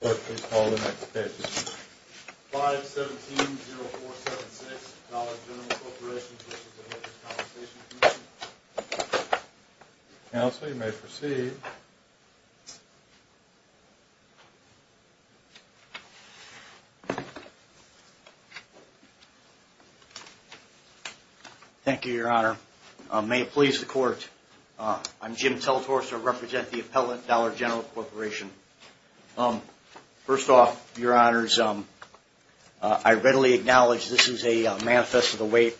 Court, please call the next witness. 517-0476, Dollar General Corporation v. The Workers' Compensation Commission. Counsel, you may proceed. Thank you, Your Honor. May it please the Court, I'm Jim Teltorcer. I represent the appellate Dollar General Corporation. First off, Your Honors, I readily acknowledge this is a manifest of the weight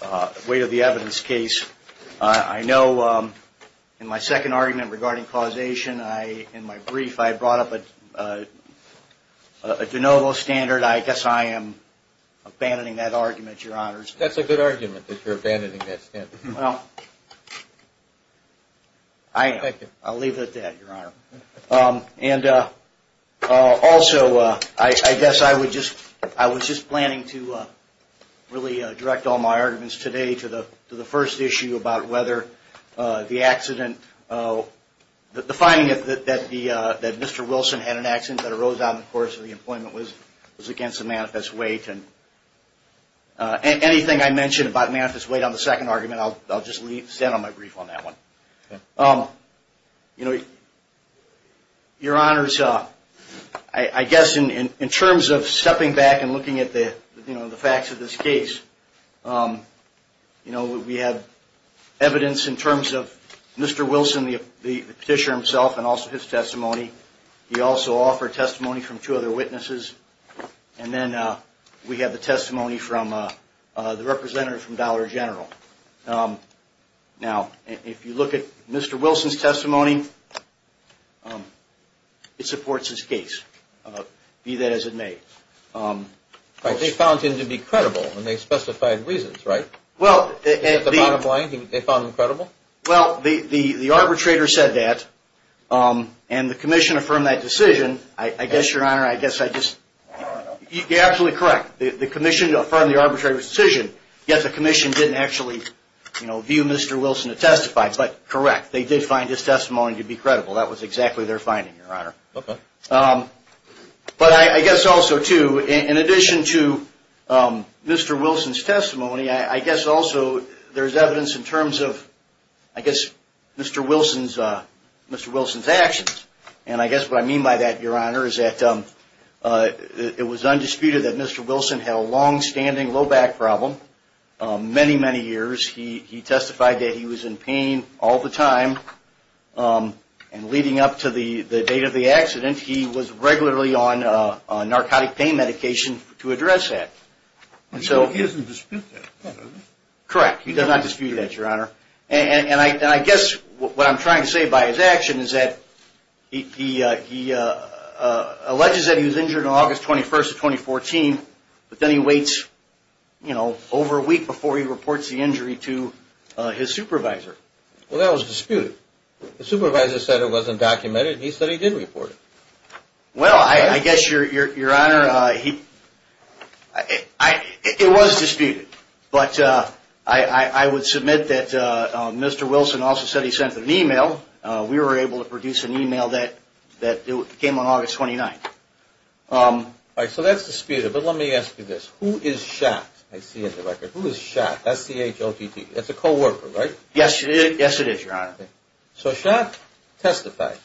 of the evidence case. I know in my second argument regarding causation, in my brief, I brought up a de novo standard. I guess I am abandoning that argument, Your Honors. That's a good argument that you're abandoning that standard. Well, I'll leave it at that, Your Honor. And also, I guess I was just planning to really direct all my arguments today to the first issue about whether the accident, the finding that Mr. Wilson had an accident that arose on the course of the employment was against the manifest weight. And anything I mention about manifest weight on the second argument, I'll just leave, stand on my brief on that one. Your Honors, I guess in terms of stepping back and looking at the facts of this case, we have evidence in terms of Mr. Wilson, the petitioner himself, and also his testimony. He also offered testimony from two other witnesses. And then we have the testimony from the representative from Dollar General. Now, if you look at Mr. Wilson's testimony, it supports his case, be that as it may. Right, they found him to be credible, and they specified reasons, right? Well, the arbitrator said that, and the commission affirmed that decision. I guess, Your Honor, I guess I just... You're absolutely correct. The commission affirmed the arbitrator's decision, yet the commission didn't actually view Mr. Wilson to testify. But correct, they did find his testimony to be credible. That was exactly their finding, Your Honor. Okay. But I guess also, too, in addition to Mr. Wilson's testimony, I guess also there's evidence in terms of, I guess, Mr. Wilson's actions. And I guess what I mean by that, Your Honor, is that it was undisputed that Mr. Wilson had a longstanding low back problem, many, many years. He testified that he was in pain all the time, and leading up to the date of the accident, he was regularly on narcotic pain medication to address that. He doesn't dispute that, does he? Correct. He does not dispute that, Your Honor. And I guess what I'm trying to say by his action is that he alleges that he was injured on August 21st of 2014, but then he waits, you know, over a week before he reports the injury to his supervisor. Well, that was disputed. The supervisor said it wasn't documented, and he said he did report it. Well, I guess, Your Honor, it was disputed. But I would submit that Mr. Wilson also said he sent an email. We were able to produce an email that came on August 29th. All right. So that's disputed. But let me ask you this. Who is Schott? I see in the record. Who is Schott? That's C-H-O-T-T. That's a coworker, right? Yes, it is, Your Honor. So Schott testified,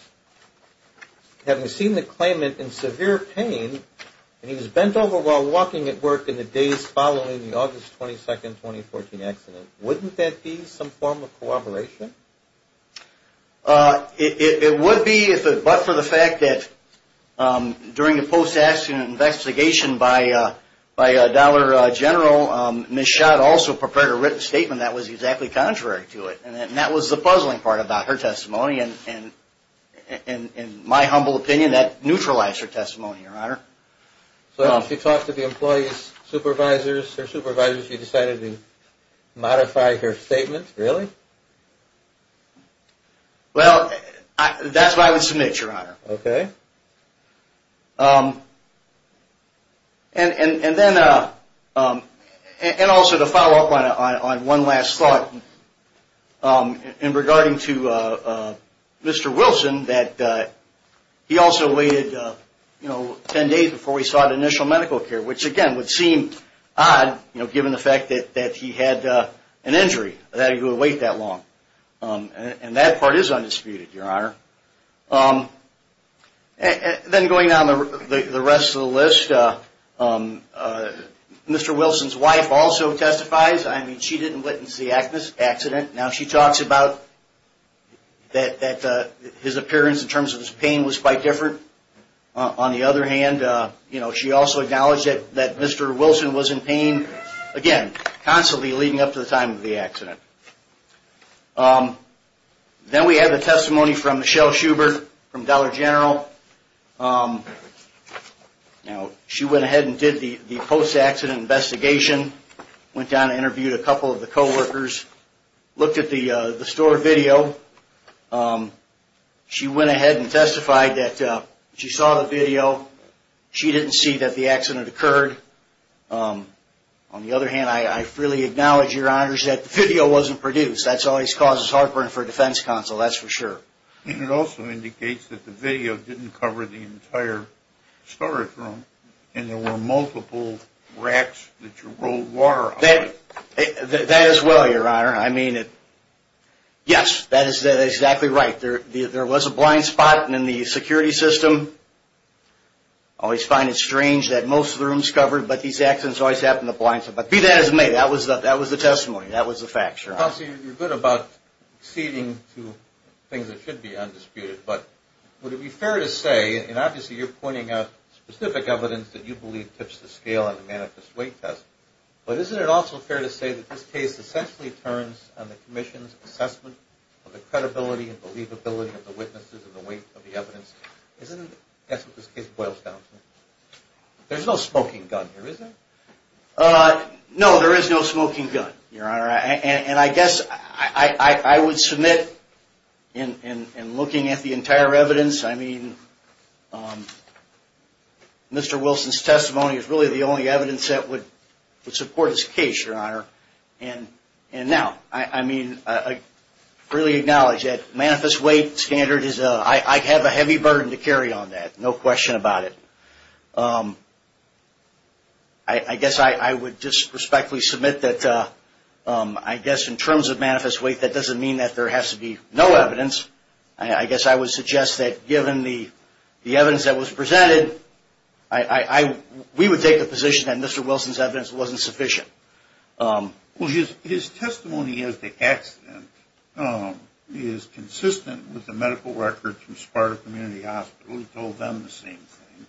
having seen the claimant in severe pain, and he was bent over while walking at work in the days following the August 22nd, 2014 accident. Wouldn't that be some form of cooperation? It would be, but for the fact that during the post-accident investigation by Dollar General, Ms. Schott also prepared a written statement that was exactly contrary to it, and that was the puzzling part about her testimony. And in my humble opinion, that neutralized her testimony, Your Honor. So she talked to the employee's supervisors. Her supervisors, you decided to modify her statement, really? Well, that's what I would submit, Your Honor. Okay. And then, and also to follow up on one last thought, in regarding to Mr. Wilson, that he also waited, you know, 10 days before he sought initial medical care, which again would seem odd, you know, given the fact that he had an injury, that he would wait that long. And that part is undisputed, Your Honor. Then going down the rest of the list, Mr. Wilson's wife also testifies. I mean, she didn't witness the accident. Now she talks about that his appearance in terms of his pain was quite different. On the other hand, you know, she also acknowledged that Mr. Wilson was in pain, again, constantly leading up to the time of the accident. Then we have a testimony from Michelle Schubert from Dollar General. Now, she went ahead and did the post-accident investigation, went down and interviewed a couple of the co-workers, looked at the store video. She went ahead and testified that she saw the video. She didn't see that the accident occurred. On the other hand, I freely acknowledge, Your Honor, that the video wasn't produced. That always causes heartburn for a defense counsel, that's for sure. It also indicates that the video didn't cover the entire storage room, and there were multiple racks that you rolled water on. That is well, Your Honor. I mean, yes, that is exactly right. There was a blind spot in the security system. I always find it strange that most of the room's covered, but these accidents always happen in the blind spot. But be that as it may, that was the testimony. That was the fact, Your Honor. Counsel, you're good about acceding to things that should be undisputed. But would it be fair to say, and obviously you're pointing out specific evidence that you believe tips the scale on the manifest weight test, but isn't it also fair to say that this case essentially turns on the Commission's assessment of the credibility and believability of the witnesses and the weight of the evidence? Isn't that what this case boils down to? There's no smoking gun here, is there? No, there is no smoking gun, Your Honor. And I guess I would submit, in looking at the entire evidence, I mean, Mr. Wilson's testimony is really the only evidence that would support this case, Your Honor. And now, I mean, I really acknowledge that manifest weight standard, I have a heavy burden to carry on that, no question about it. I guess I would just respectfully submit that I guess in terms of manifest weight, that doesn't mean that there has to be no evidence. I guess I would suggest that given the evidence that was presented, we would take the position that Mr. Wilson's evidence wasn't sufficient. Well, his testimony as to the accident is consistent with the medical records from Sparta Community Hospital. He told them the same thing.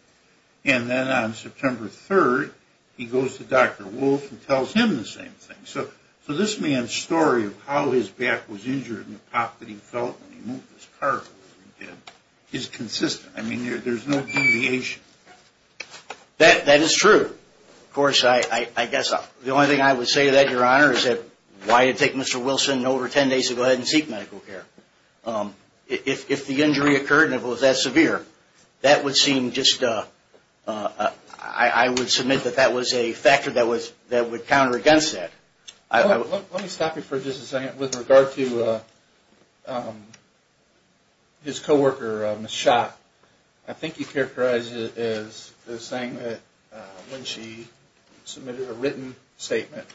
And then on September 3rd, he goes to Dr. Wolf and tells him the same thing. So this man's story of how his back was injured and the pop that he felt when he moved his car is consistent. I mean, there's no deviation. That is true. Of course, I guess the only thing I would say to that, Your Honor, is that why take Mr. Wilson over 10 days to go ahead and seek medical care? If the injury occurred and it was that severe, that would seem just, I would submit that that was a factor that would counter against that. Let me stop you for just a second with regard to his co-worker, Ms. Schott. I think you characterized it as saying that when she submitted a written statement,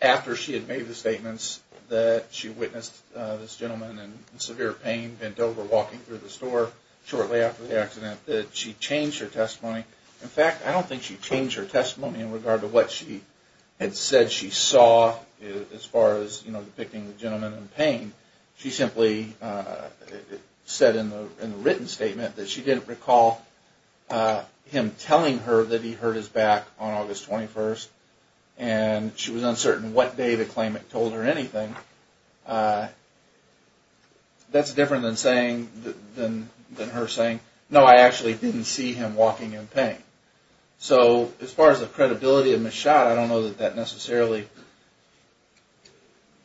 after she had made the statements that she witnessed this gentleman in severe pain, bent over walking through the store shortly after the accident, that she changed her testimony. In fact, I don't think she changed her testimony in regard to what she had said she saw as far as, you know, depicting the gentleman in pain. I mean, she simply said in the written statement that she didn't recall him telling her that he hurt his back on August 21st, and she was uncertain what day to claim it told her anything. That's different than her saying, no, I actually didn't see him walking in pain. So as far as the credibility of Ms. Schott, I don't know that that necessarily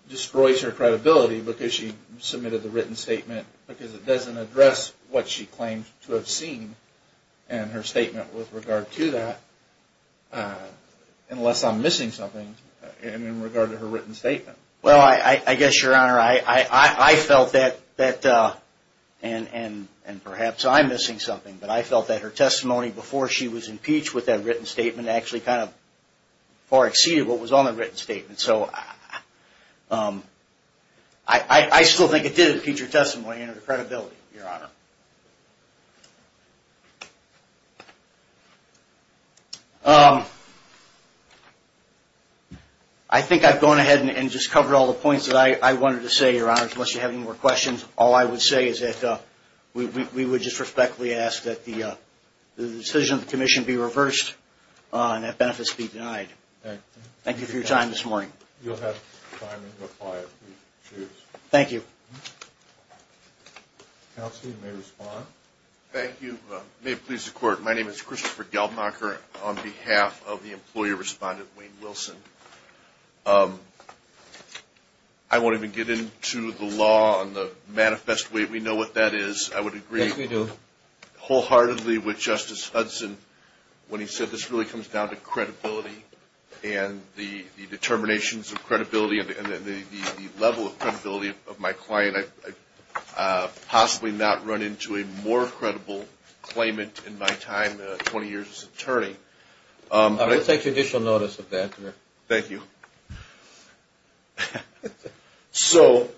destroys her credibility because she submitted the written statement, because it doesn't address what she claimed to have seen in her statement with regard to that, unless I'm missing something in regard to her written statement. Well, I guess, Your Honor, I felt that, and perhaps I'm missing something, but I felt that her testimony before she was impeached with that written statement actually kind of far exceeded what was on the written statement. So I still think it did impeach her testimony and her credibility, Your Honor. I think I've gone ahead and just covered all the points that I wanted to say, Your Honor, unless you have any more questions. All I would say is that we would just respectfully ask that the decision of the commission be reversed and that benefits be denied. Thank you for your time this morning. You'll have time to reply if you choose. Thank you. Counsel, you may respond. Thank you. May it please the Court, my name is Christopher Gelbmacher on behalf of the employee respondent, Wayne Wilson. I won't even get into the law and the manifest way we know what that is. I would agree wholeheartedly with Justice Hudson when he said this really comes down to credibility and the determinations of credibility and the level of credibility of my client. I've possibly not run into a more credible claimant in my time, 20 years as an attorney. Let's take judicial notice of that. Thank you. So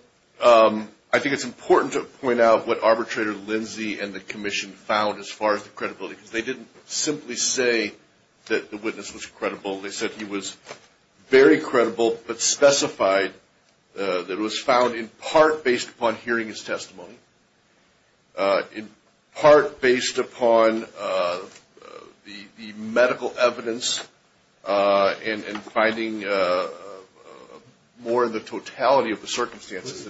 I think it's important to point out what Arbitrator Lindsay and the commission found as far as the credibility, because they didn't simply say that the witness was credible. They said he was very credible but specified that it was found in part based upon hearing his testimony, in part based upon the medical evidence and finding more of the totality of the circumstances.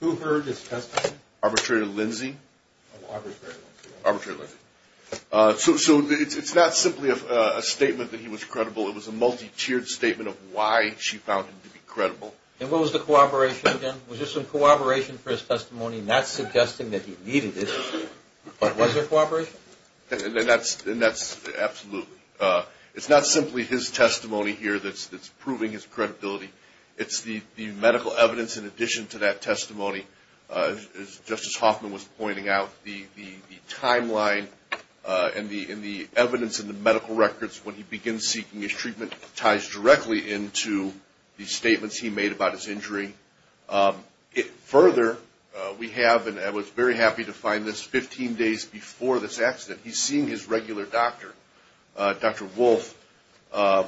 Who heard his testimony? Arbitrator Lindsay. Oh, Arbitrator Lindsay. Arbitrator Lindsay. So it's not simply a statement that he was credible. It was a multi-tiered statement of why she found him to be credible. And what was the cooperation again? Was there some cooperation for his testimony, not suggesting that he needed it, but was there cooperation? And that's absolutely. It's not simply his testimony here that's proving his credibility. It's the medical evidence in addition to that testimony. As Justice Hoffman was pointing out, the timeline and the evidence in the medical records when he begins seeking his treatment ties directly into the statements he made about his injury. Further, we have, and I was very happy to find this, 15 days before this accident, he's seeing his regular doctor, Dr. Wolf, a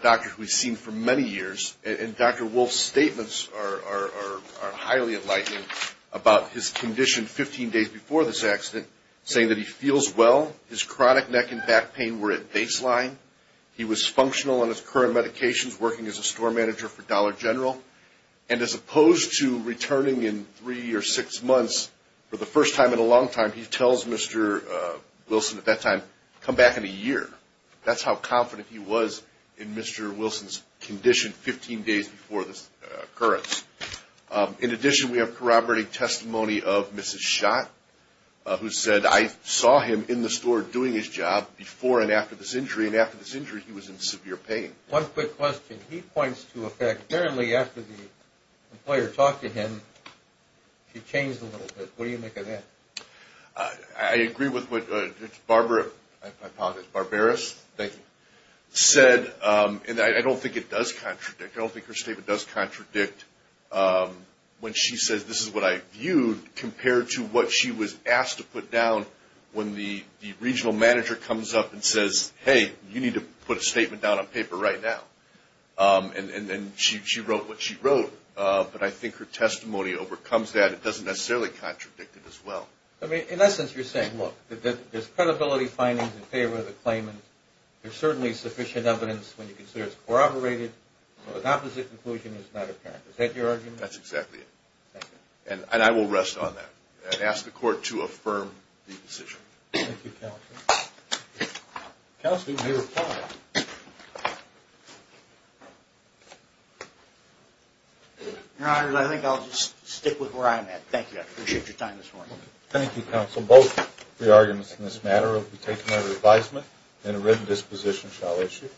doctor who he's seen for many years. And Dr. Wolf's statements are highly enlightening about his condition 15 days before this accident, saying that he feels well. His chronic neck and back pain were at baseline. He was functional on his current medications, working as a store manager for Dollar General. And as opposed to returning in three or six months, for the first time in a long time, he tells Mr. Wilson at that time, come back in a year. That's how confident he was in Mr. Wilson's condition 15 days before this occurrence. In addition, we have corroborating testimony of Mrs. Schott, who said, I saw him in the store doing his job before and after this injury, and after this injury, he was in severe pain. One quick question. He points to a fact, apparently after the employer talked to him, he changed a little bit. What do you make of that? I agree with what Barbara Barberis said. And I don't think it does contradict. I don't think her statement does contradict when she says this is what I viewed compared to what she was asked to put down when the regional manager comes up and says, hey, you need to put a statement down on paper right now. And then she wrote what she wrote. But I think her testimony overcomes that. And it doesn't necessarily contradict it as well. In essence, you're saying, look, there's credibility findings in favor of the claimant. There's certainly sufficient evidence when you consider it's corroborated. So an opposite conclusion is not apparent. Is that your argument? That's exactly it. And I will rest on that and ask the Court to affirm the decision. Thank you, counsel. Counsel, you may reply. Your Honor, I think I'll just stick with where I'm at. Thank you. I appreciate your time this morning. Thank you, counsel. Both the arguments in this matter will be taken under advisement and a written disposition shall issue.